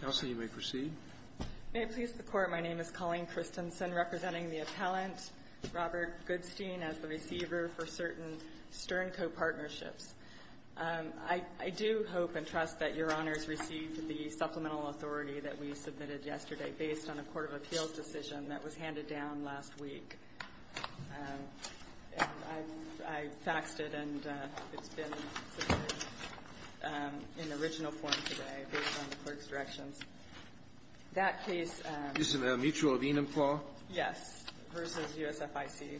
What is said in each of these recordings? Counsel, you may proceed. May it please the Court, my name is Colleen Christensen, representing the appellant Robert Goodstein as the receiver for certain Stern Co. partnerships. I do hope and trust that Your Honors received the supplemental authority that we submitted yesterday based on a Court of Appeals decision that was handed down last week. I faxed it and it's been submitted in original form today based on the clerk's directions. That case — Is it a mutual venum, Paul? Yes. Versus USFIC.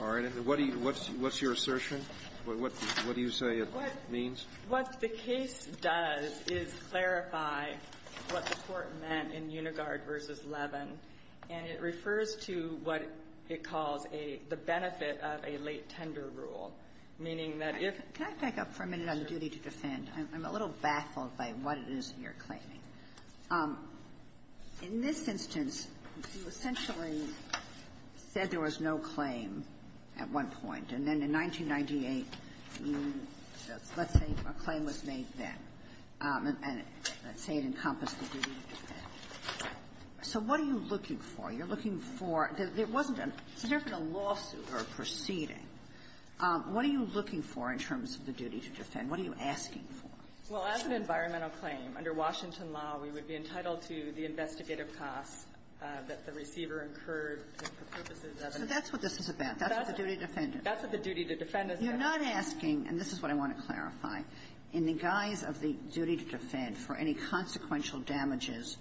All right. And what do you — what's your assertion? What do you say it means? What the case does is clarify what the Court meant in Unigard v. Levin, and it refers to what it calls a — the benefit of a late tender rule, meaning that if — Can I back up for a minute on the duty to defend? I'm a little baffled by what it is that you're claiming. In this instance, you essentially said there was no claim at one point. And then in 1998, you — let's say a claim was made then, and let's say it encompassed the duty to defend. So what are you looking for? You're looking for — there wasn't a lawsuit or a proceeding. What are you looking for in terms of the duty to defend? What are you asking for? Well, as an environmental claim, under Washington law, we would be entitled to the investigative costs that the receiver incurred for purposes of an — So that's what this is about. That's what the duty to defend is. That's what the duty to defend is about. You're not asking — and this is what I want to clarify. In the guise of the duty to defend, for any consequential damages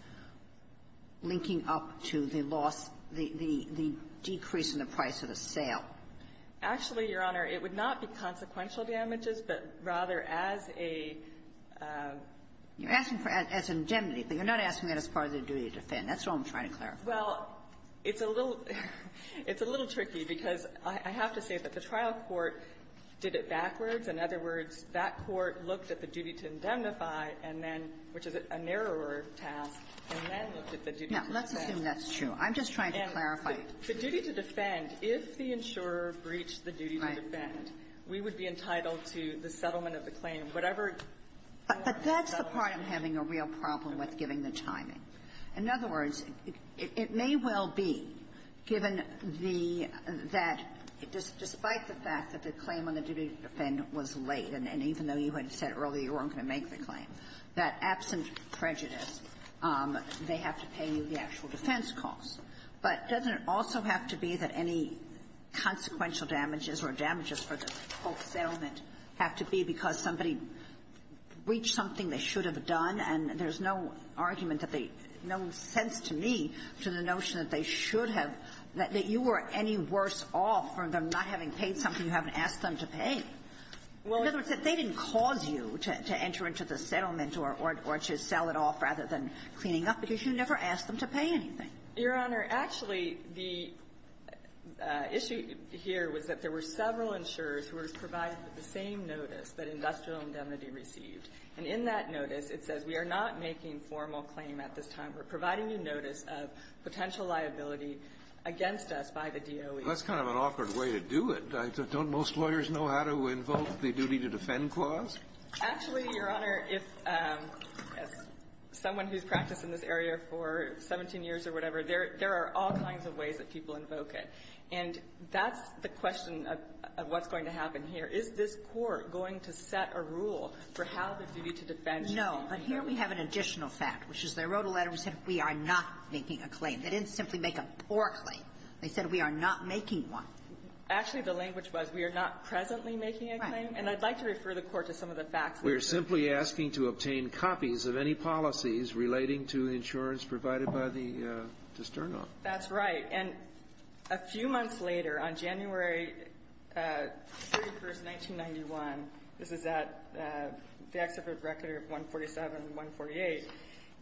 linking up to the loss, the — the decrease in the price of the sale. Actually, Your Honor, it would not be consequential damages, but rather as a — You're asking for — as an indemnity, but you're not asking that as part of the duty to defend. That's all I'm trying to clarify. Well, it's a little — it's a little tricky, because I have to say that the trial court did it backwards. In other words, that court looked at the duty to indemnify and then — which is a narrower task — and then looked at the duty to defend. Now, let's assume that's true. I'm just trying to clarify it. And the duty to defend, if the insurer breached the duty to defend, we would be entitled to the settlement of the claim, whatever — But that's the part I'm having a real problem with, given the timing. In other words, the claim on the duty to defend was late, and even though you had said earlier you weren't going to make the claim, that absent prejudice, they have to pay you the actual defense costs. But doesn't it also have to be that any consequential damages or damages for the whole settlement have to be because somebody breached something they should have done, and there's no argument that they — no sense to me to the notion that they should have — that you were any worse off for them not having paid something you haven't asked them to pay. In other words, that they didn't cause you to enter into the settlement or to sell it off rather than cleaning up, because you never asked them to pay anything. Your Honor, actually, the issue here was that there were several insurers who were provided with the same notice that industrial indemnity received. And in that notice, it says, we are not making formal claim at this time. We're providing you notice of potential liability against us by the DOE. That's kind of an awkward way to do it. Don't most lawyers know how to invoke the duty-to-defend clause? Actually, Your Honor, if someone who's practiced in this area for 17 years or whatever, there are all kinds of ways that people invoke it. And that's the question of what's going to happen here. Is this Court going to set a rule for how the duty-to-defend should be? No. But here we have an additional fact, which is they wrote a letter and said, we are not making a claim. They didn't simply make a poor claim. They said, we are not making one. Actually, the language was, we are not presently making a claim. Right. And I'd like to refer the Court to some of the facts. We are simply asking to obtain copies of any policies relating to insurance provided by the de Sterno. That's right. And a few months later, on January 31st, 1991, this is at the Exhibit Record of 147 and 148,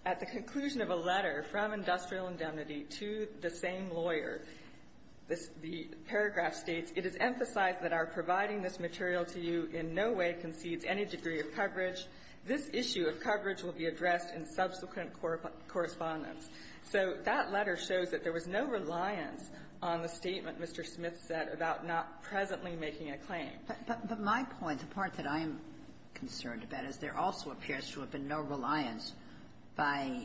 at the conclusion of a letter from Industrial Indemnity to the same lawyer, the paragraph states, it is emphasized that our providing this material to you in no way concedes any degree of coverage. This issue of coverage will be addressed in subsequent correspondence. So that letter shows that there was no reliance on the statement Mr. Smith said about not presently making a claim. But my point, the part that I am concerned about, is there also appears to have been no reliance by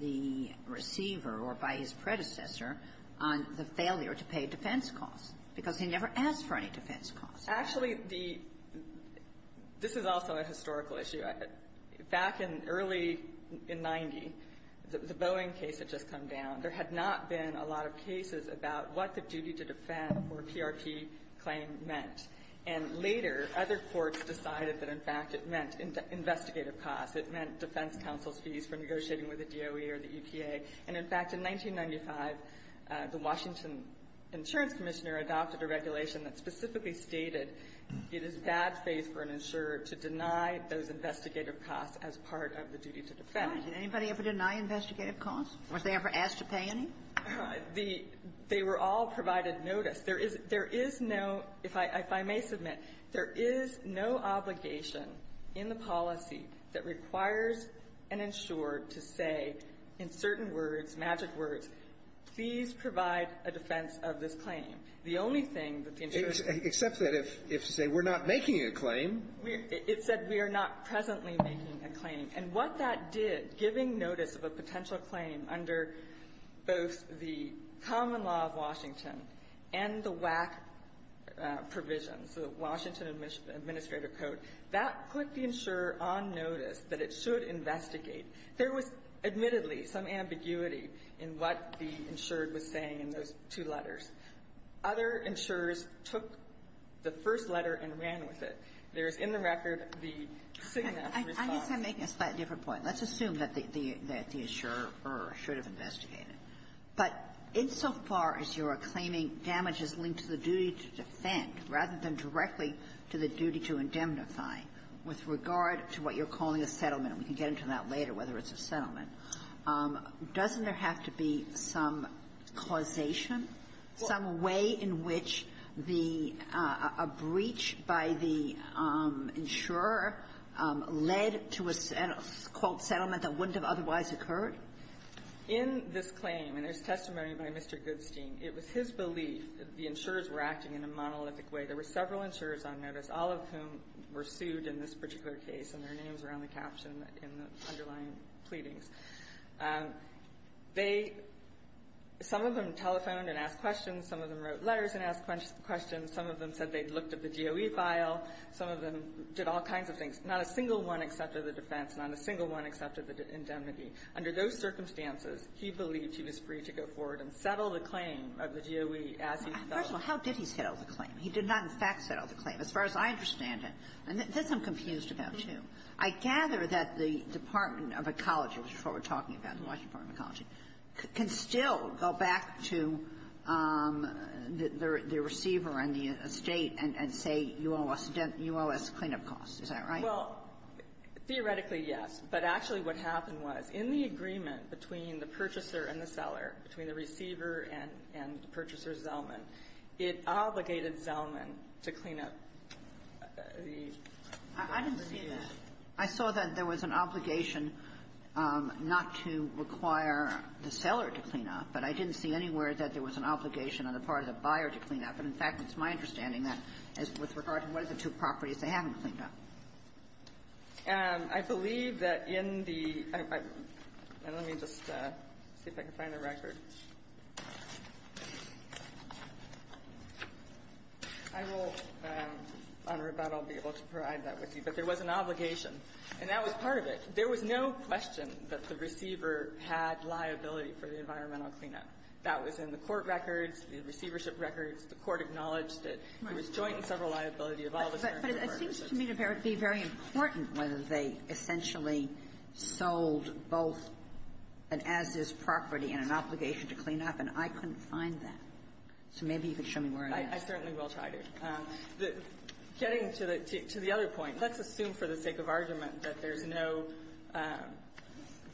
the receiver or by his predecessor on the failure to pay defense costs, because he never asked for any defense costs. Actually, the – this is also a historical issue. Back in early – in 90, the Boeing case had just come down. There had not been a lot of cases about what the duty to defend or PRP claim meant. And later, other courts decided that, in fact, it meant investigative costs. It meant defense counsel's fees for negotiating with the DOE or the EPA. And, in fact, in 1995, the Washington Insurance Commissioner adopted a regulation that specifically stated it is bad faith for an insurer to deny those investigative costs as part of the duty to defend. Did anybody ever deny investigative costs? Was they ever asked to pay any? The – they were all provided notice. There is – there is no – if I may submit, there is no obligation in the policy that requires an insurer to say in certain words, magic words, please provide a defense of this claim. The only thing that the insurer said was to say, we're not making a claim. It said, we are not presently making a claim. And what that did, giving notice of a potential claim under both the common law of Washington and the WAC provisions, the Washington Administrative Code, that put the insurer on notice that it should investigate. There was admittedly some ambiguity in what the insured was saying in those two letters. Other insurers took the first letter and ran with it. There is in the record the signature response. I guess I'm making a slightly different point. Let's assume that the – that the insurer should have investigated. But insofar as you are claiming damage is linked to the duty to defend rather than directly to the duty to indemnify, with regard to what you're calling a settlement – and we can get into that later, whether it's a settlement – doesn't there have to be some causation? Some way in which the – a breach by the insurer led to a, quote, settlement that wouldn't have otherwise occurred? In this claim, and there's testimony by Mr. Goodstein, it was his belief that the insurers were acting in a monolithic way. There were several insurers on notice, all of whom were sued in this particular case, and their names are on the caption in the underlying pleadings. They – some of them telephoned and asked questions. Some of them wrote letters and asked questions. Some of them said they'd looked at the DOE file. Some of them did all kinds of things. Not a single one accepted the defense. Not a single one accepted the indemnity. Under those circumstances, he believed he was free to go forward and settle the claim of the DOE as he felt. First of all, how did he settle the claim? He did not, in fact, settle the claim, as far as I understand it. And this I'm confused about, too. I gather that the Department of Ecology, which is what we're talking about, the Washington Department of Ecology, can still go back to the receiver and the estate and say you owe us clean-up costs. Is that right? Well, theoretically, yes. But actually what happened was, in the agreement between the purchaser and the seller, between the receiver and purchaser Zellman, it obligated Zellman to clean up the I saw that there was an obligation not to require the seller to clean up. But I didn't see anywhere that there was an obligation on the part of the buyer to clean up. And, in fact, it's my understanding that, as with regard to one of the two properties, they haven't cleaned up. I believe that in the Let me just see if I can find the record. I will, on rebuttal, be able to provide that with you. But there was an obligation, and that was part of it. There was no question that the receiver had liability for the environmental clean-up. That was in the court records, the receivership records. The court acknowledged that there was joint and several liability of all the part of the receiver. But it seems to me to be very important whether they essentially sold both an as-is property and an obligation to clean up, and I couldn't find that. So maybe you could show me where it is. I certainly will try to. But getting to the other point, let's assume for the sake of argument that there's no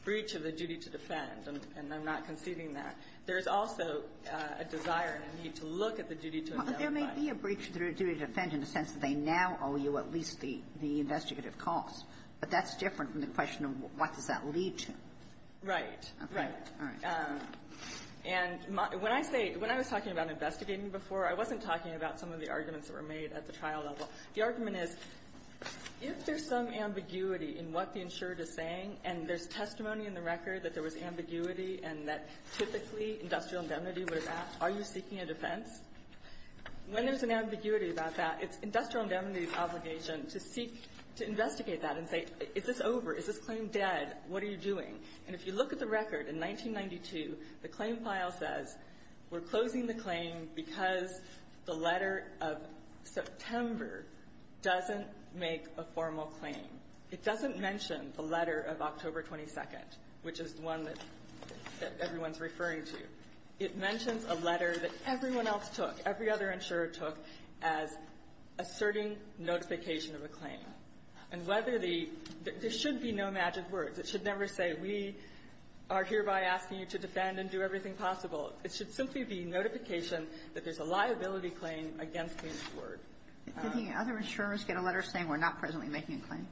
breach of the duty to defend, and I'm not conceding that. There is also a desire and a need to look at the duty to avail liability. Kagan. There may be a breach of the duty to defend in the sense that they now owe you at least the investigative costs. But that's different from the question of what does that lead to. Right. Right. All right. And when I say – when I was talking about investigating before, I wasn't talking about some of the arguments that were made at the trial level. The argument is, if there's some ambiguity in what the insured is saying, and there's testimony in the record that there was ambiguity and that typically industrial indemnity would have asked, are you seeking a defense? When there's an ambiguity about that, it's industrial indemnity's obligation to seek to investigate that and say, is this over? Is this claim dead? What are you doing? And if you look at the record, in 1992, the claim file says, we're closing the claim because the letter of September doesn't make a formal claim. It doesn't mention the letter of October 22nd, which is the one that everyone's referring to. It mentions a letter that everyone else took, every other insurer took, as asserting notification of a claim. And whether the – there should be no magic words. It should never say, we are hereby asking you to defend and do everything possible. It should simply be notification that there's a liability claim against the insured. Kagan. Kagan. Other insurers get a letter saying, we're not presently making a claim?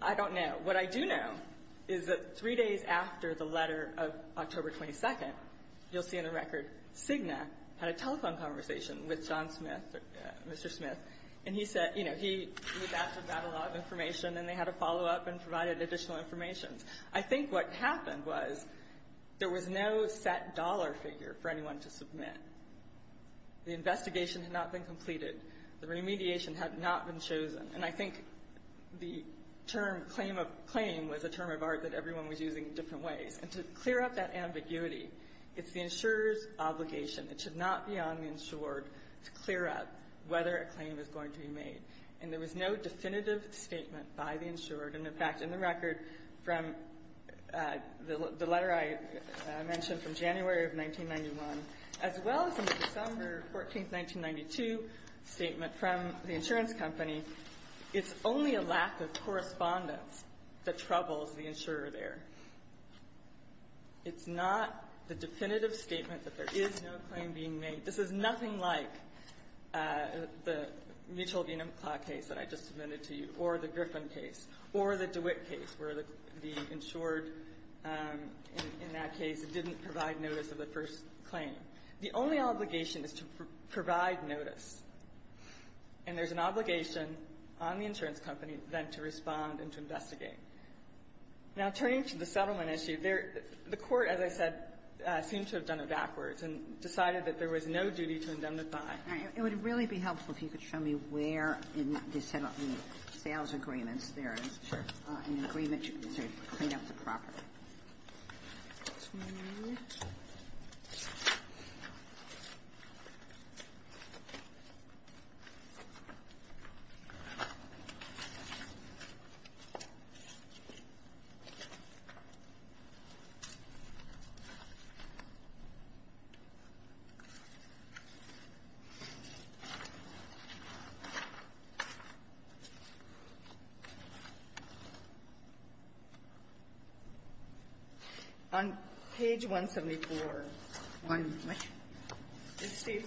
I don't know. What I do know is that three days after the letter of October 22nd, you'll see in the record, Cigna had a telephone conversation with John Smith, Mr. Smith, and he said – you know, he was asked about a lot of information, and they had a follow-up and provided additional information. I think what happened was there was no set dollar figure for anyone to submit. The investigation had not been completed. The remediation had not been chosen. And I think the term claim of – claim was a term of art that everyone was using in different ways. And to clear up that ambiguity, it's the insurer's obligation. It should not be on the insured to clear up whether a claim is going to be made. And there was no definitive statement by the insured. And, in fact, in the record from the letter I mentioned from January of 1991, as well as in the December 14th, 1992 statement from the insurance company, it's only a lack of correspondence that troubles the insurer there. It's not the definitive statement that there is no claim being made. This is nothing like the Mitchell v. McClaw case that I just submitted to you, or the DeWitt case, where the insured in that case didn't provide notice of the first claim. The only obligation is to provide notice. And there's an obligation on the insurance company, then, to respond and to investigate. Now, turning to the settlement issue, there – the Court, as I said, seemed to have done it backwards and decided that there was no duty to indemnify. It would really be helpful if you could show me where in the settlement, in the sales agreements, there is an agreement to clean up the property. On page 174. One what? It states,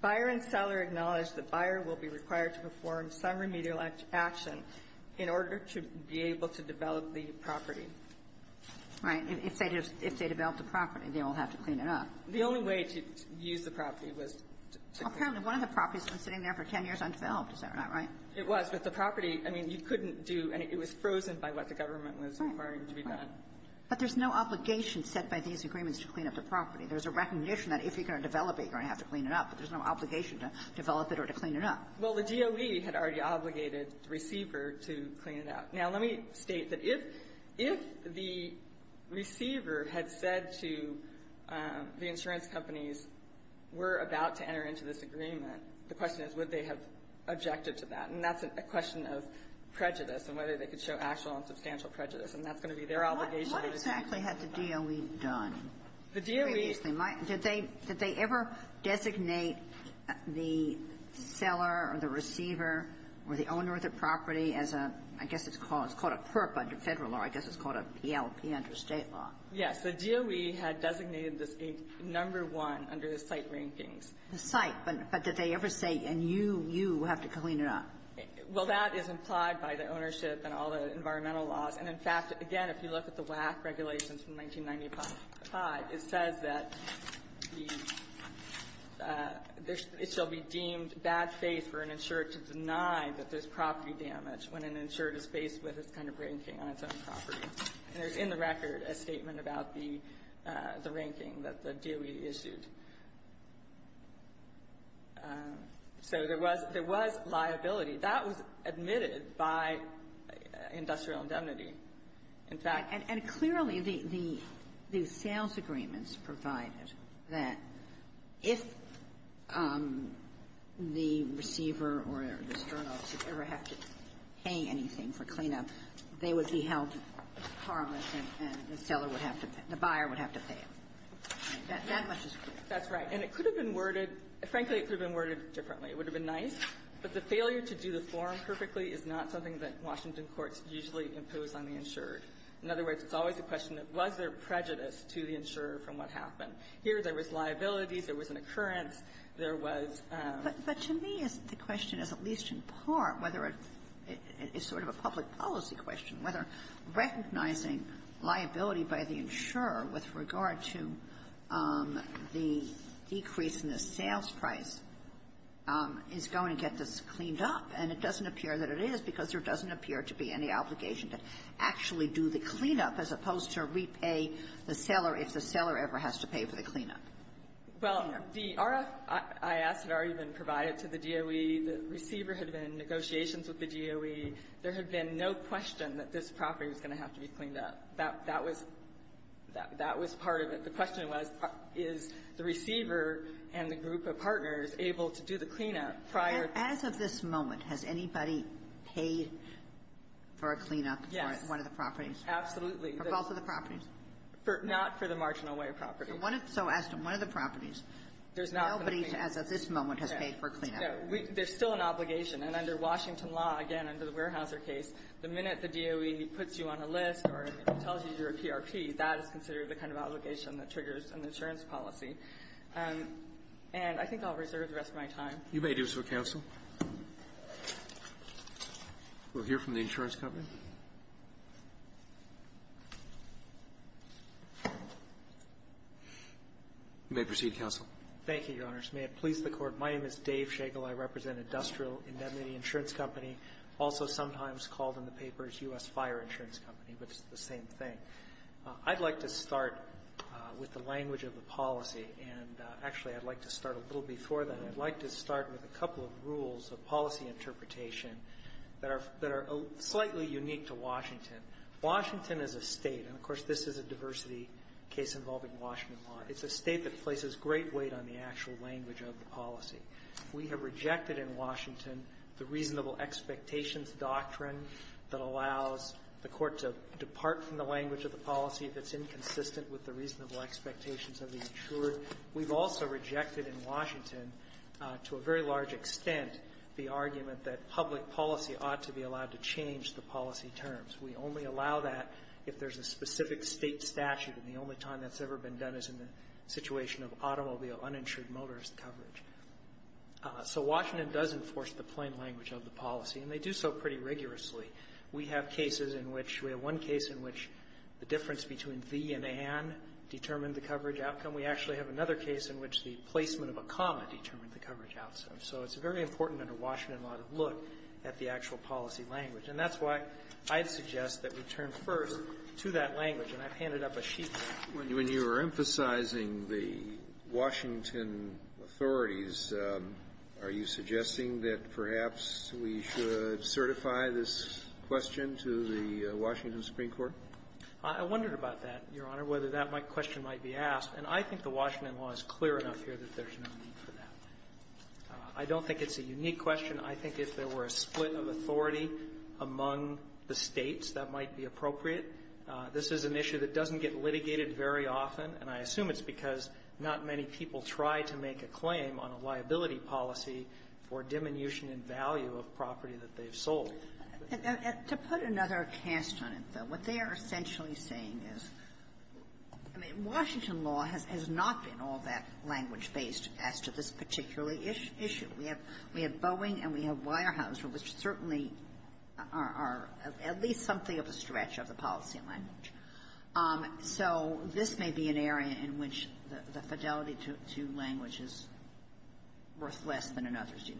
Buyer and seller acknowledge that buyer will be required to perform some remedial action in order to be able to develop the property. All right. If they just – if they develop the property, they will have to clean it up. The only way to use the property was to – Apparently, one of the properties has been sitting there for 10 years undeveloped. Is that not right? It was. But the property, I mean, you couldn't do – it was frozen by what the government was requiring to be done. Right. But there's no obligation set by these agreements to clean up the property. There's a recognition that if you're going to develop it, you're going to have to clean it up. But there's no obligation to develop it or to clean it up. Well, the DOE had already obligated the receiver to clean it up. Now, let me state that if – if the receiver had said to the insurance companies, we're about to enter into this agreement, the question is would they have objected to that. And that's a question of prejudice and whether they could show actual and substantial prejudice. And that's going to be their obligation. What exactly had the DOE done? The DOE – Did they – did they ever designate the seller or the receiver or the owner of the It's called a PERP under Federal law. I guess it's called a PLP under State law. Yes. The DOE had designated this a number one under the site rankings. The site. But did they ever say, and you – you have to clean it up? Well, that is implied by the ownership and all the environmental laws. And, in fact, again, if you look at the WAC regulations from 1995, it says that the – it shall be deemed bad faith for an insurer to deny that there's property damage when an insurer is faced with this kind of ranking on its own property. And there's in the record a statement about the – the ranking that the DOE issued. So there was – there was liability. That was admitted by industrial indemnity. In fact – And clearly, the – the sales agreements provided that if the receiver or the external should ever have to pay anything for clean-up, they would be held harmless and the seller would have to – the buyer would have to pay it. That much is clear. That's right. And it could have been worded – frankly, it could have been worded differently. It would have been nice. But the failure to do the form perfectly is not something that Washington courts usually impose on the insurer. In other words, it's always a question of was there prejudice to the insurer from what happened. Here, there was liability. There was an occurrence. There was – But to me, the question is, at least in part, whether it's sort of a public policy question, whether recognizing liability by the insurer with regard to the decrease in the sales price is going to get this cleaned up. And it doesn't appear that it is, because there doesn't appear to be any obligation to actually do the clean-up as opposed to repay the seller if the seller ever has to pay for the clean-up. Well, the RFIS had already been provided to the DOE. The receiver had been in negotiations with the DOE. There had been no question that this property was going to have to be cleaned up. That was – that was part of it. The question was, is the receiver and the group of partners able to do the clean-up prior to the – As of this moment, has anybody paid for a clean-up for one of the properties? Yes. Absolutely. For both of the properties? For – not for the marginal-weight property. So as to one of the properties, nobody has, at this moment, has paid for a clean-up. There's still an obligation. And under Washington law, again, under the Weyerhaeuser case, the minute the DOE puts you on a list or tells you you're a PRP, that is considered the kind of obligation that triggers an insurance policy. And I think I'll reserve the rest of my time. You may do so, counsel. We'll hear from the insurance company. You may proceed, counsel. Thank you, Your Honors. May it please the Court. My name is Dave Shagle. I represent Industrial Indemnity Insurance Company, also sometimes called in the papers U.S. Fire Insurance Company, but it's the same thing. I'd like to start with the language of the policy. And actually, I'd like to start a little before that. It's very unique to Washington. Washington is a State, and, of course, this is a diversity case involving Washington law. It's a State that places great weight on the actual language of the policy. We have rejected in Washington the reasonable expectations doctrine that allows the Court to depart from the language of the policy if it's inconsistent with the reasonable expectations of the insured. We've also rejected in Washington, to a very large extent, the argument that public policy ought to be allowed to change the policy terms. We only allow that if there's a specific State statute, and the only time that's ever been done is in the situation of automobile uninsured motorist coverage. So Washington does enforce the plain language of the policy, and they do so pretty rigorously. We have cases in which we have one case in which the difference between the and an determined the coverage outcome. We actually have another case in which the placement of a comma determined the coverage outcome. So it's very important under Washington law to look at the actual policy language. And that's why I'd suggest that we turn first to that language. And I've handed up a sheet there. Kennedy. When you were emphasizing the Washington authorities, are you suggesting that perhaps we should certify this question to the Washington Supreme Court? I wondered about that, Your Honor, whether that question might be asked. And I think the Washington law is clear enough here that there's no need for that. I don't think it's a unique question. I think if there were a split of authority among the States, that might be appropriate. This is an issue that doesn't get litigated very often, and I assume it's because not many people try to make a claim on a liability policy for diminution in value of property that they've sold. And to put another cast on it, though, what they are essentially saying is, I mean, Washington law has not been all that language-based as to this particular issue. We have Boeing and we have Weyerhaeuser, which certainly are at least something of a stretch of the policy language. So this may be an area in which the fidelity to language is worth less than in others.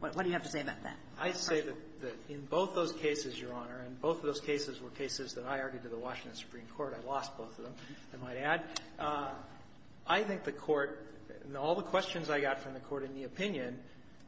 What do you have to say about that? I'd say that in both those cases, Your Honor, and both of those cases were cases that I argued to the Washington Supreme Court. I lost both of them, I might add. I think the Court, in all the questions I got from the Court in the opinion,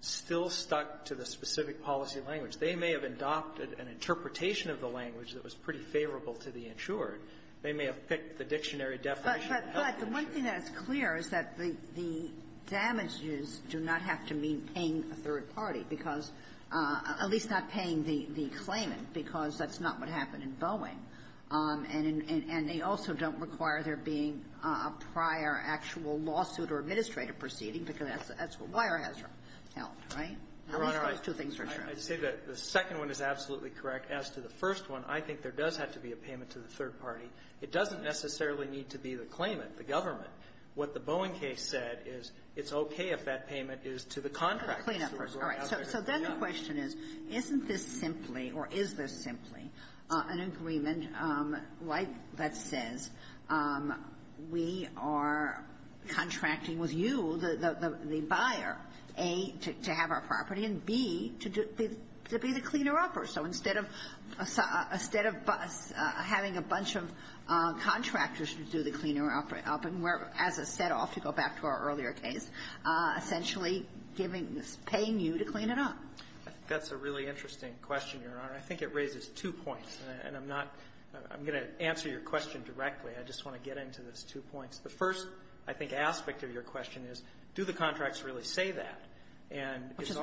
still stuck to the specific policy language. They may have adopted an interpretation of the language that was pretty favorable to the insured. They may have picked the dictionary definition. But the one thing that's clear is that the damages do not have to mean paying a third party, because at least not paying the claimant, because that's not what happened in Boeing. And they also don't require there being a prior actual lawsuit or administrative proceeding, because that's what Weyerhaeuser held, right? At least those two things are true. Your Honor, I'd say that the second one is absolutely correct. As to the first one, I think there does have to be a payment to the third party. It doesn't necessarily need to be the claimant, the government. What the Boeing case said is it's okay if that payment is to the contractor. So then the question is, isn't this simply, or is this simply, an interpretation of an agreement, like that says, we are contracting with you, the buyer, A, to have our property, and B, to be the cleaner-upper? So instead of having a bunch of contractors to do the cleaner-upping, we're, as a set-off, to go back to our earlier case, essentially giving this, paying you to clean it up. I think that's a really interesting question, Your Honor. I think it raises two points, and I'm not going to answer your question directly. I just want to get into those two points. The first, I think, aspect of your question is, do the contracts really say that? And it's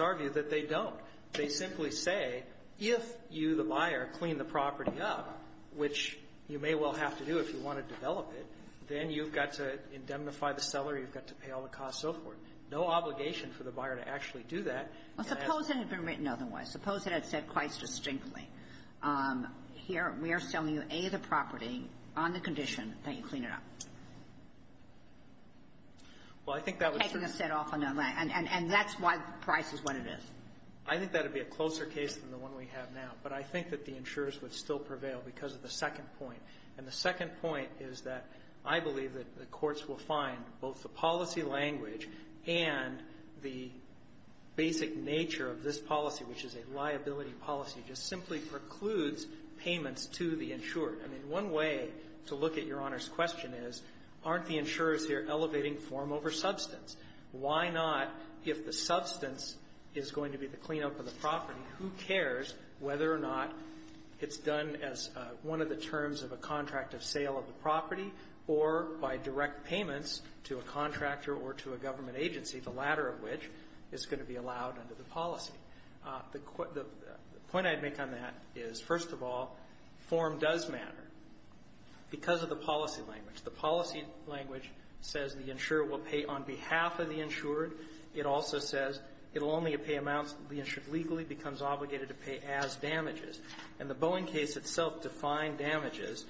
our view that they don't. They simply say, if you, the buyer, clean the property up, which you may well have to do if you want to develop it, then you've got to indemnify the seller, you've got to pay all the costs, so forth. No obligation for the buyer to actually do that. Suppose it had been written otherwise. Suppose it had said quite distinctly, here, we are selling you, A, the property on the condition that you clean it up. Well, I think that would certainly be the case. Taking a set-off on that land, and that's why the price is what it is. I think that would be a closer case than the one we have now. But I think that the insurers would still prevail because of the second point. And the second point is that I believe that the courts will find both the policy language and the basic nature of this policy, which is a liability policy, just simply precludes payments to the insurer. I mean, one way to look at Your Honor's question is, aren't the insurers here elevating form over substance? Why not, if the substance is going to be the cleanup of the property, who cares whether or not it's done as one of the terms of a contract of sale of the property or by direct payments to a contractor or to a government agency, the latter of which is going to be allowed under the policy? The point I'd make on that is, first of all, form does matter because of the policy language. The policy language says the insurer will pay on behalf of the insured. It also says it will only pay amounts the insured legally becomes obligated to pay as damages. And the Boeing case itself defined damages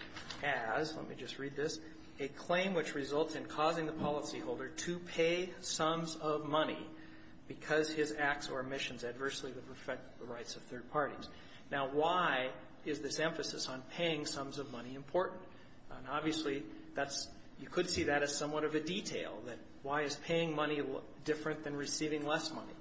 as, let me just read this, a claim which results in causing the policyholder to pay sums of money because his acts or omissions adversely would affect the rights of third parties. Now, why is this emphasis on paying sums of money important? And obviously, that's you could see that as somewhat of a detail, that why is paying money different than receiving less money?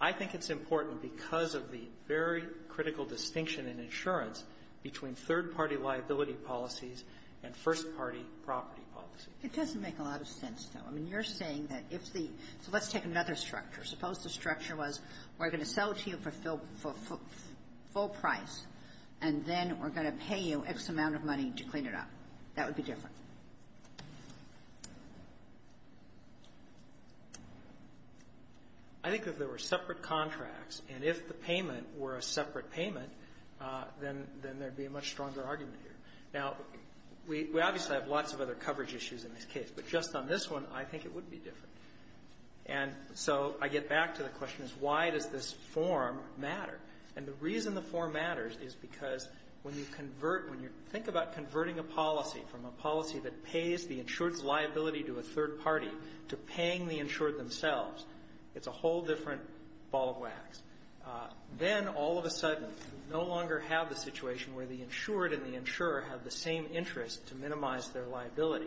I think it's important because of the very critical distinction in insurance between third-party liability policies and first-party property policies. It doesn't make a lot of sense, though. I mean, you're saying that if the so let's take another structure. Suppose the structure was we're going to sell it to you for full price, and then we're going to pay you X amount of money to clean it up. That would be different. I think that if there were separate contracts, and if the payment were a separate payment, then there would be a much stronger argument here. Now, we obviously have lots of other coverage issues in this case, but just on this one, I think it would be different. And so I get back to the question is why does this form matter? And the reason the form matters is because when you convert, when you think about converting a policy from a policy that pays the insured's liability to a third party to paying the insured themselves, it's a whole different ball of wax. Then, all of a sudden, you no longer have the situation where the insured and the insurer have the same interest to minimize their liability.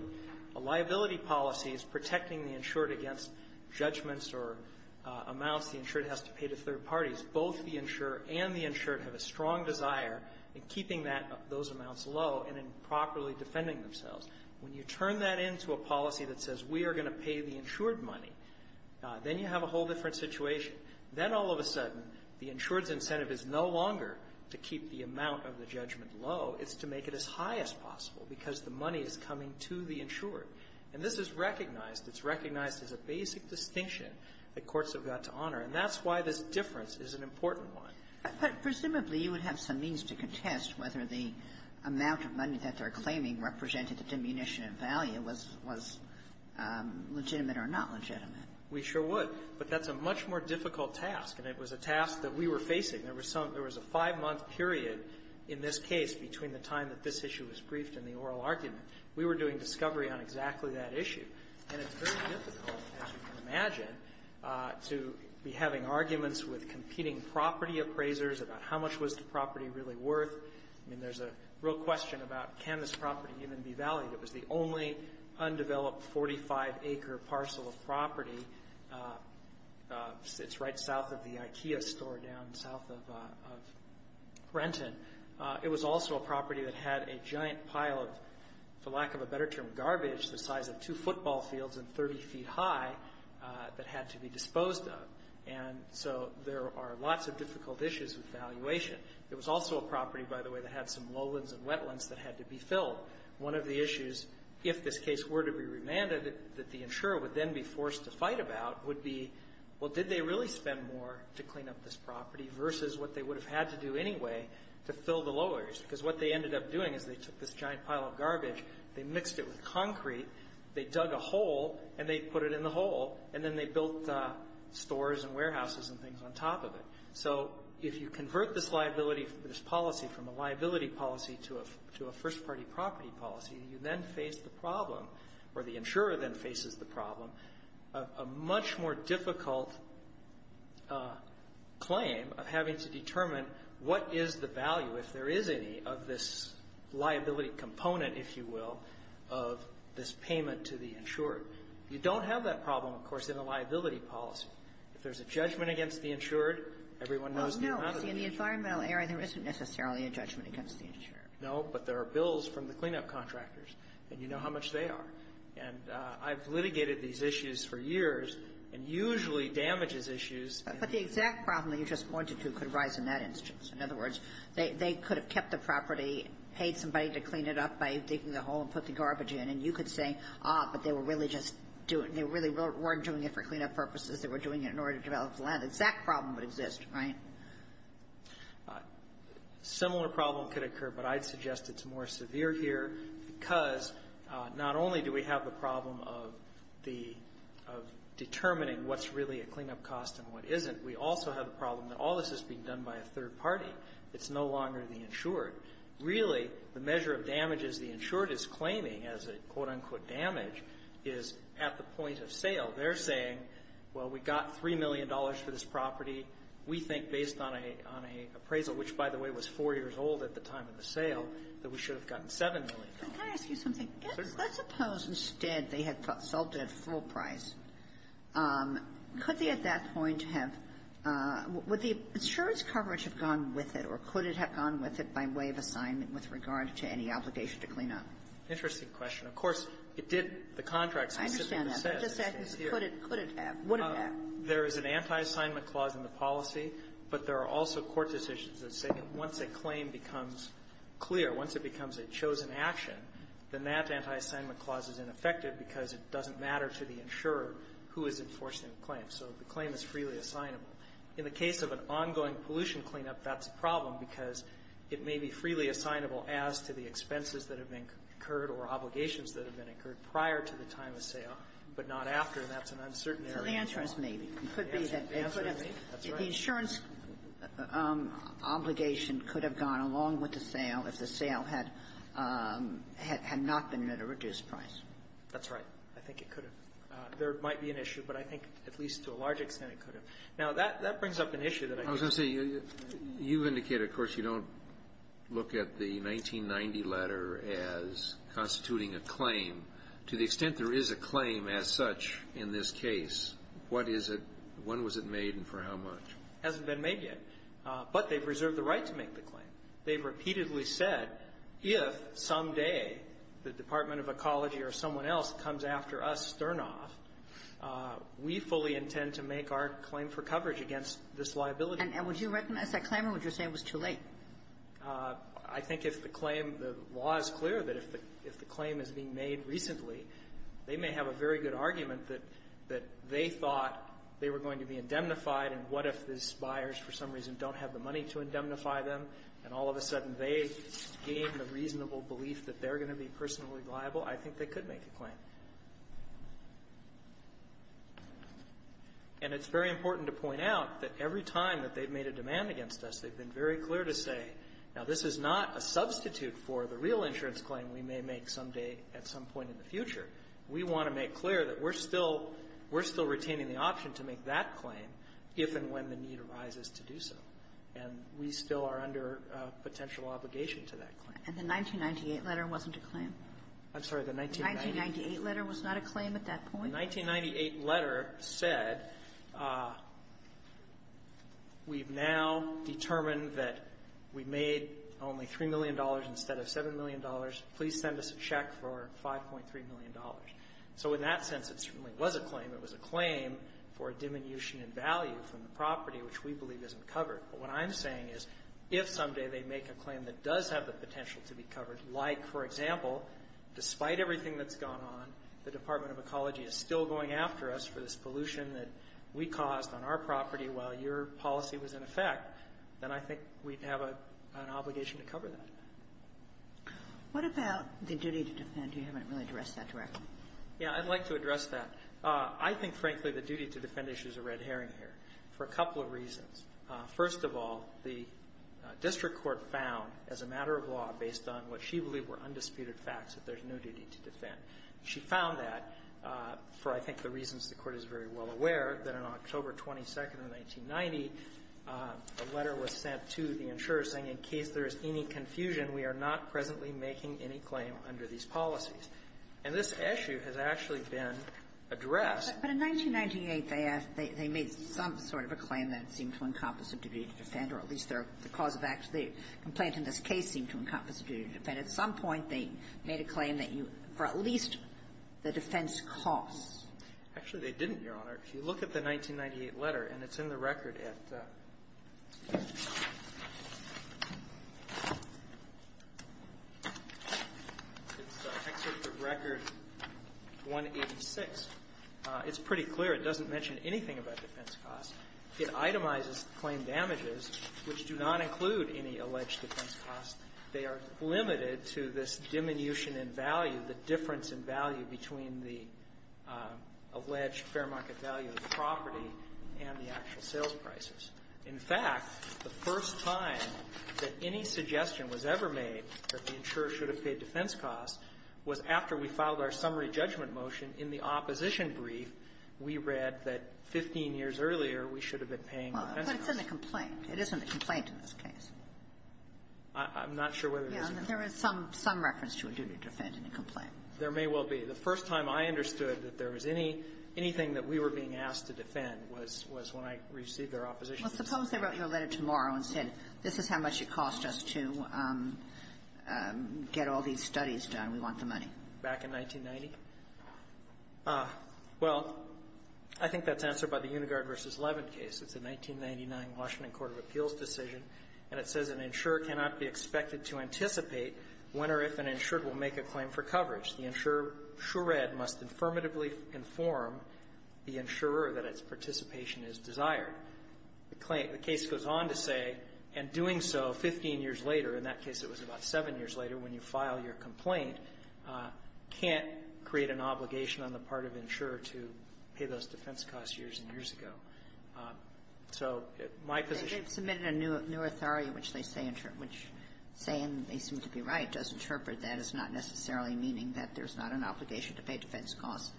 A liability policy is protecting the insured against judgments or amounts the insured has to pay to third parties. Both the insurer and the insured have a strong desire in keeping those amounts low and in properly defending themselves. When you turn that into a policy that says we are going to pay the insured money, then you have a whole different situation. Then, all of a sudden, the insured's incentive is no longer to keep the amount of the judgment low. It's to make it as high as possible because the money is coming to the insured. And this is recognized. It's recognized as a basic distinction that courts have got to honor. And that's why this difference is an important one. But presumably, you would have some means to contest whether the amount of money that they're claiming represented a diminution in value was legitimate or not legitimate. We sure would. But that's a much more difficult task, and it was a task that we were facing. There was a five-month period in this case between the time that this issue was briefed and the oral argument. We were doing discovery on exactly that issue. And it's very difficult, as you can imagine, to be having arguments with competing property appraisers about how much was the property really worth. I mean, there's a real question about can this property even be valued. It was the only undeveloped 45-acre parcel of property. It's right south of the Ikea store down south of Brenton. It was also a property that had a giant pile of, for lack of a better term, garbage the size of two football fields and 30 feet high that had to be disposed of. And so there are lots of difficult issues with valuation. It was also a property, by the way, that had some lowlands and wetlands that had to be filled. One of the issues, if this case were to be remanded, that the insurer would then be forced to fight about would be, well, did they really spend more to clean up this property versus what they would have had to do anyway to fill the low areas. Because what they ended up doing is they took this giant pile of garbage, they mixed it with concrete, they dug a hole, and they put it in the hole, and then they built stores and warehouses and things on top of it. So if you convert this policy from a liability policy to a first-party property policy, you then face the problem, or the insurer then faces the problem, a much more difficult claim of having to determine what is the value, if there is any, of this liability component, if you will, of this payment to the insured. You don't have that problem, of course, in a liability policy. If there's a judgment against the insured, everyone knows the amount of the issue. Kagan. No. See, in the environmental area, there isn't necessarily a judgment against the insured. No. But there are bills from the cleanup contractors, and you know how much they are. And I've litigated these issues for years and usually damages issues. But the exact problem that you just pointed to could arise in that instance. In other words, they could have kept the property, paid somebody to clean it up by digging the hole and put the garbage in, and you could say, ah, but they were really just doing it. They really weren't doing it for cleanup purposes. They were doing it in order to develop the land. The exact problem would exist, right? A similar problem could occur, but I'd suggest it's more severe here, because not only do we have the problem of determining what's really a cleanup cost and what isn't, we also have the problem that all of this is being done by a third party. It's no longer the insured. Really, the measure of damages the insured is claiming as a, quote, unquote, damage is at the point of sale. They're saying, well, we got $3 million for this property. We think based on an appraisal, which, by the way, was four years old at the time of the sale, that we should have gotten $7 million. Can I ask you something? Certainly. Let's suppose instead they had sold it at full price. Could they at that point have the insurance coverage have gone with it, or could it have gone with it by way of assignment with regard to any obligation to clean up? Interesting question. Of course, it did. The contract specifically says it stays here. Could it have? Would it have? There is an anti-assignment clause in the policy, but there are also court decisions that say that once a claim becomes clear, once it becomes a chosen action, then that anti-assignment clause is ineffective because it doesn't matter to the insurer who is enforcing the claim. So the claim is freely assignable. In the case of an ongoing pollution cleanup, that's a problem because it may be freely assignable as to the expenses that have been incurred or obligations that have been incurred prior to the time of sale, but not after, and that's an uncertain area. So the answer is maybe. It could be that the insurance obligation could have gone along with the sale if the sale had not been at a reduced price. That's right. I think it could have. There might be an issue, but I think at least to a large extent, it could have. Now, that brings up an issue that I think we need to address. I was going to say, you've indicated, of course, you don't look at the 1990 letter as constituting a claim. To the extent there is a claim as such in this case, what is it? When was it made and for how much? It hasn't been made yet. But they've reserved the right to make the claim. They've repeatedly said, if someday the Department of Ecology or someone else comes after us, Sternoff, we fully intend to make our claim for coverage against this liability. And would you recognize that claim or would you say it was too late? I think if the claim, the law is clear that if the claim is being made recently, they may have a very good argument that they thought they were going to be indemnified and what if these buyers for some reason don't have the money to indemnify them and all of a sudden they gain the reasonable belief that they're going to be personally liable, I think they could make a claim. And it's very important to point out that every time that they've made a demand against us, they've been very clear to say, now, this is not a substitute for the real insurance claim we may make someday at some point in the future. We want to make clear that we're still retaining the option to make that claim if and when the need arises to do so. And we still are under potential obligation to that claim. And the 1998 letter wasn't a claim? I'm sorry. The 1998 letter was not a claim at that point? The 1998 letter said, we've now determined that we made only $3 million instead of $7 million. Please send us a check for $5.3 million. So in that sense, it certainly was a claim. It was a claim for a diminution in value from the property, which we believe isn't covered. But what I'm saying is if someday they make a claim that does have the potential to be covered, like for example, despite everything that's gone on, the Department of Justice is still going after us for this pollution that we caused on our property while your policy was in effect, then I think we'd have an obligation to cover that. What about the duty to defend? You haven't really addressed that directly. Yeah. I'd like to address that. I think, frankly, the duty to defend issue is a red herring here for a couple of reasons. First of all, the district court found, as a matter of law, based on what she believed were undisputed facts, that there's no duty to defend. She found that for, I think, the reasons the Court is very well aware, that on October 22nd of 1990, a letter was sent to the insurer saying, in case there is any confusion, we are not presently making any claim under these policies. And this issue has actually been addressed. But in 1998, they asked they made some sort of a claim that it seemed to encompass a duty to defend, or at least their cause of action, the complaint in this case seemed to encompass a duty to defend. And at some point, they made a claim that you, for at least the defense costs. Actually, they didn't, Your Honor. If you look at the 1998 letter, and it's in the record at the record 186, it's pretty clear it doesn't mention anything about defense costs. It itemizes claim damages, which do not include any alleged defense costs. They are limited to this diminution in value, the difference in value between the alleged fair market value of the property and the actual sales prices. In fact, the first time that any suggestion was ever made that the insurer should have paid defense costs was after we filed our summary judgment motion in the opposition brief. We read that 15 years earlier, we should have been paying defense costs. But it's in the complaint. It is in the complaint in this case. I'm not sure whether it is in the complaint. Yeah. There is some reference to a duty to defend in the complaint. There may well be. The first time I understood that there was anything that we were being asked to defend was when I received our opposition. Well, suppose they wrote you a letter tomorrow and said, this is how much it cost us to get all these studies done. We want the money. Back in 1990? Well, I think that's answered by the Unigard v. Levin case. It's a 1999 Washington court of appeals decision. And it says an insurer cannot be expected to anticipate when or if an insured will make a claim for coverage. The insurer, sure read, must affirmatively inform the insurer that its participation is desired. The claim the case goes on to say, and doing so 15 years later, in that case it was about 7 years later, when you file your complaint, can't create an obligation on the part of the insurer to pay those defense costs years and years ago. So my position --- New Artharia, which they say in their case, which they say, and they seem to be right, does interpret that as not necessarily meaning that there's not an obligation to pay defense costs.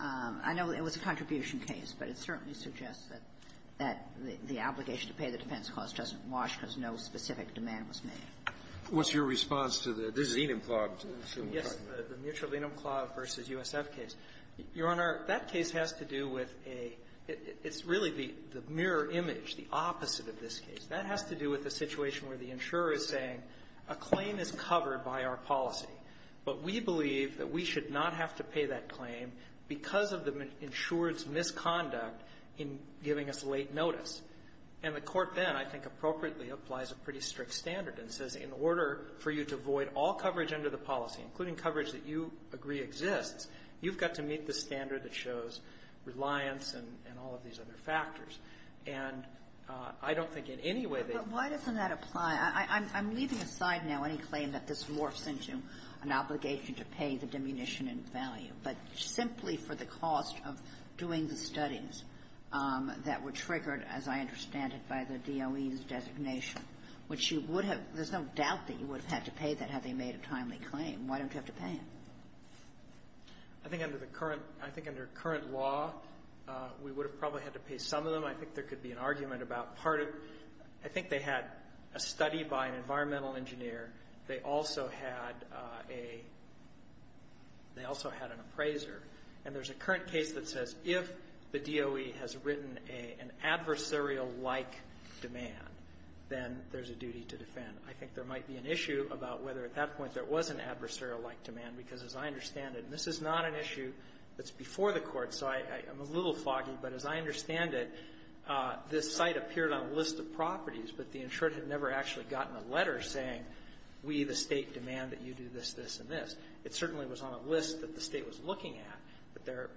I know it was a contribution case, but it certainly suggests that that the obligation to pay the defense costs doesn't wash because no specific demand was made. What's your response to the Mutual Venum Clause versus USF case? Your Honor, that case has to do with a --- it's really the mirror image, the opposite of this case. That has to do with the situation where the insurer is saying, a claim is covered by our policy, but we believe that we should not have to pay that claim because of the insurer's misconduct in giving us late notice. And the Court then, I think appropriately, applies a pretty strict standard and says, in order for you to void all coverage under the policy, including coverage that you agree exists, you've got to meet the standard that shows reliance and all of these other factors. And I don't think in any way that the --- But why doesn't that apply? I'm leaving aside now any claim that this morphs into an obligation to pay the diminution in value, but simply for the cost of doing the studies that were triggered, as I understand it, by the DOE's designation, which you would have --- there's no doubt that you would have had to pay that had they made a timely claim. Why don't you have to pay it? I think under the current law, we would have probably had to pay some of them. I think there could be an argument about part of --- I think they had a study by an environmental engineer. They also had a --- they also had an appraiser. And there's a current case that says if the DOE has written an adversarial-like demand, then there's a duty to defend. I think there might be an issue about whether at that point there was an adversarial-like demand, because as I understand it, and this is not an issue that's before the Court, so I'm a little foggy, but as I understand it, this site appeared on a list of properties, but the insured had never actually gotten a letter saying, we, the State, demand that you do this, this, and this. It certainly was on a list that the State was looking at, but there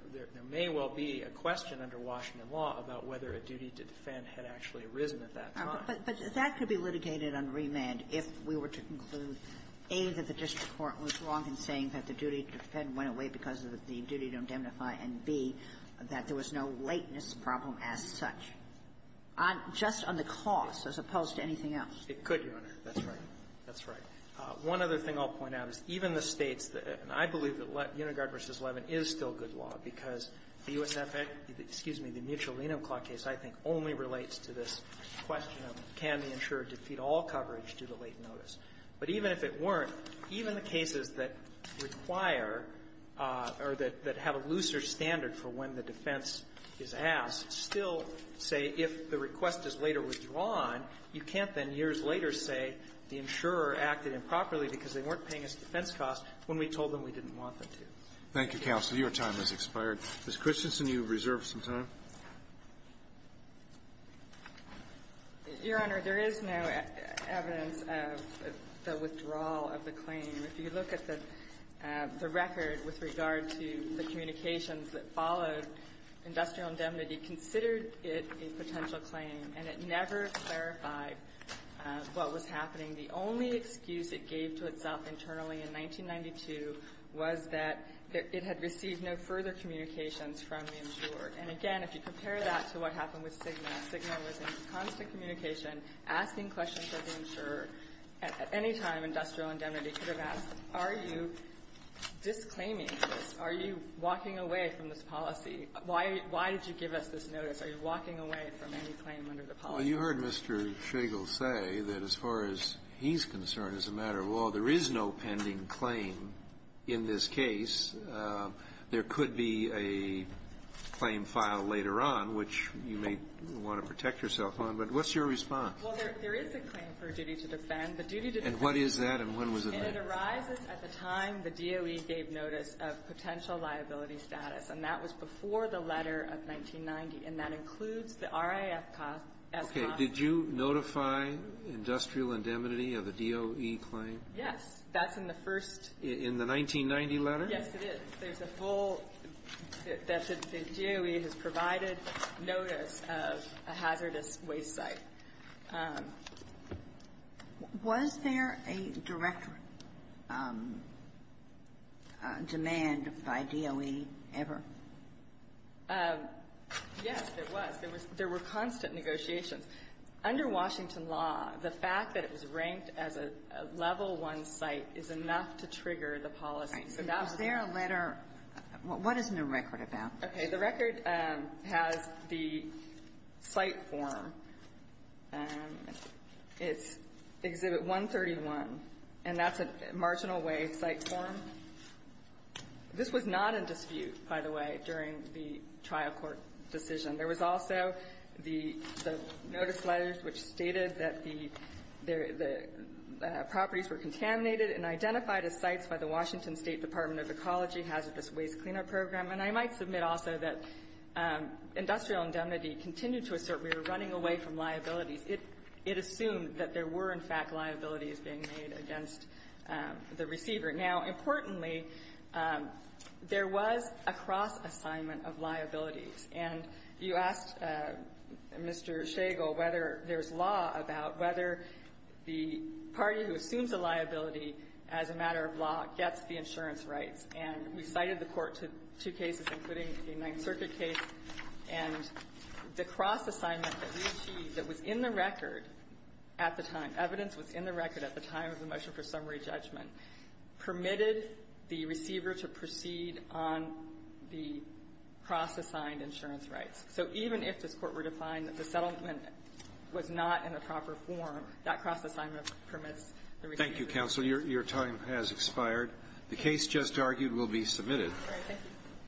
may well be a question under Washington law about whether a duty to defend had actually arisen at that time. But that could be litigated on remand if we were to conclude, A, that the district court was wrong in saying that the duty to defend went away because of the duty to indemnify, and, B, that there was no lateness problem as such, on just on the cost as opposed to anything else. It could, Your Honor. That's right. That's right. One other thing I'll point out is even the States, and I believe that Unigard v. Levin is still good law because the USFA, excuse me, the mutual lien of claught case, I think, only relates to this question of can the insurer defeat all coverage due to late notice. But even if it weren't, even the cases that require or that have a looser standard for when the defense is asked still say if the request is later withdrawn, you can't then years later say the insurer acted improperly because they weren't paying us defense costs when we told them we didn't want them to. Thank you, counsel. Your time has expired. Ms. Christensen, you have reserved some time. Your Honor, there is no evidence of the withdrawal of the claim. If you look at the record with regard to the communications that followed, industrial indemnity considered it a potential claim, and it never clarified what was happening. The only excuse it gave to itself internally in 1992 was that it had received no further communications from the insurer. And again, if you compare that to what happened with Cigna, Cigna was in constant communication asking questions of the insurer at any time industrial indemnity could have asked, are you disclaiming this? Are you walking away from this policy? Why did you give us this notice? Are you walking away from any claim under the policy? Well, you heard Mr. Shagel say that as far as he's concerned as a matter of law, there is no pending claim in this case. There could be a claim filed later on, which you may want to protect yourself on. But what's your response? Well, there is a claim for duty to defend. The duty to defend. And what is that, and when was it made? And it arises at the time the DOE gave notice of potential liability status. And that was before the letter of 1990. And that includes the RAF cost. Okay, did you notify industrial indemnity of the DOE claim? Yes. That's in the first — In the 1990 letter? Yes, it is. There's a full — that the DOE has provided notice of a hazardous waste site. Was there a direct demand by DOE ever? Yes, there was. There was — there were constant negotiations. Under Washington law, the fact that it was ranked as a Level I site is enough to trigger the policy. So that was the — All right. Was there a letter — what is in the record about this? Okay. The record has the site form. It's Exhibit 131, and that's a marginal-wage site form. This was not in dispute, by the way, during the trial court decision. There was also the notice letters which stated that the properties were contaminated and identified as sites by the Washington State Department of Ecology Hazardous Waste Cleanup Program. And I might submit also that industrial indemnity continued to assert we were running away from liabilities. It assumed that there were, in fact, liabilities being made against the receiver. And you asked Mr. Shagel whether there's law about whether the party who assumes a liability as a matter of law gets the insurance rights. And we cited the court to two cases, including the Ninth Circuit case. And the cross-assignment that we achieved that was in the record at the time — evidence was in the record at the time of the motion for summary judgment — permitted the insurance rights. So even if this court were to find that the settlement was not in a proper form, that cross-assignment permits the receiver. Thank you, counsel. Your time has expired. The case just argued will be submitted. All right. Thank you.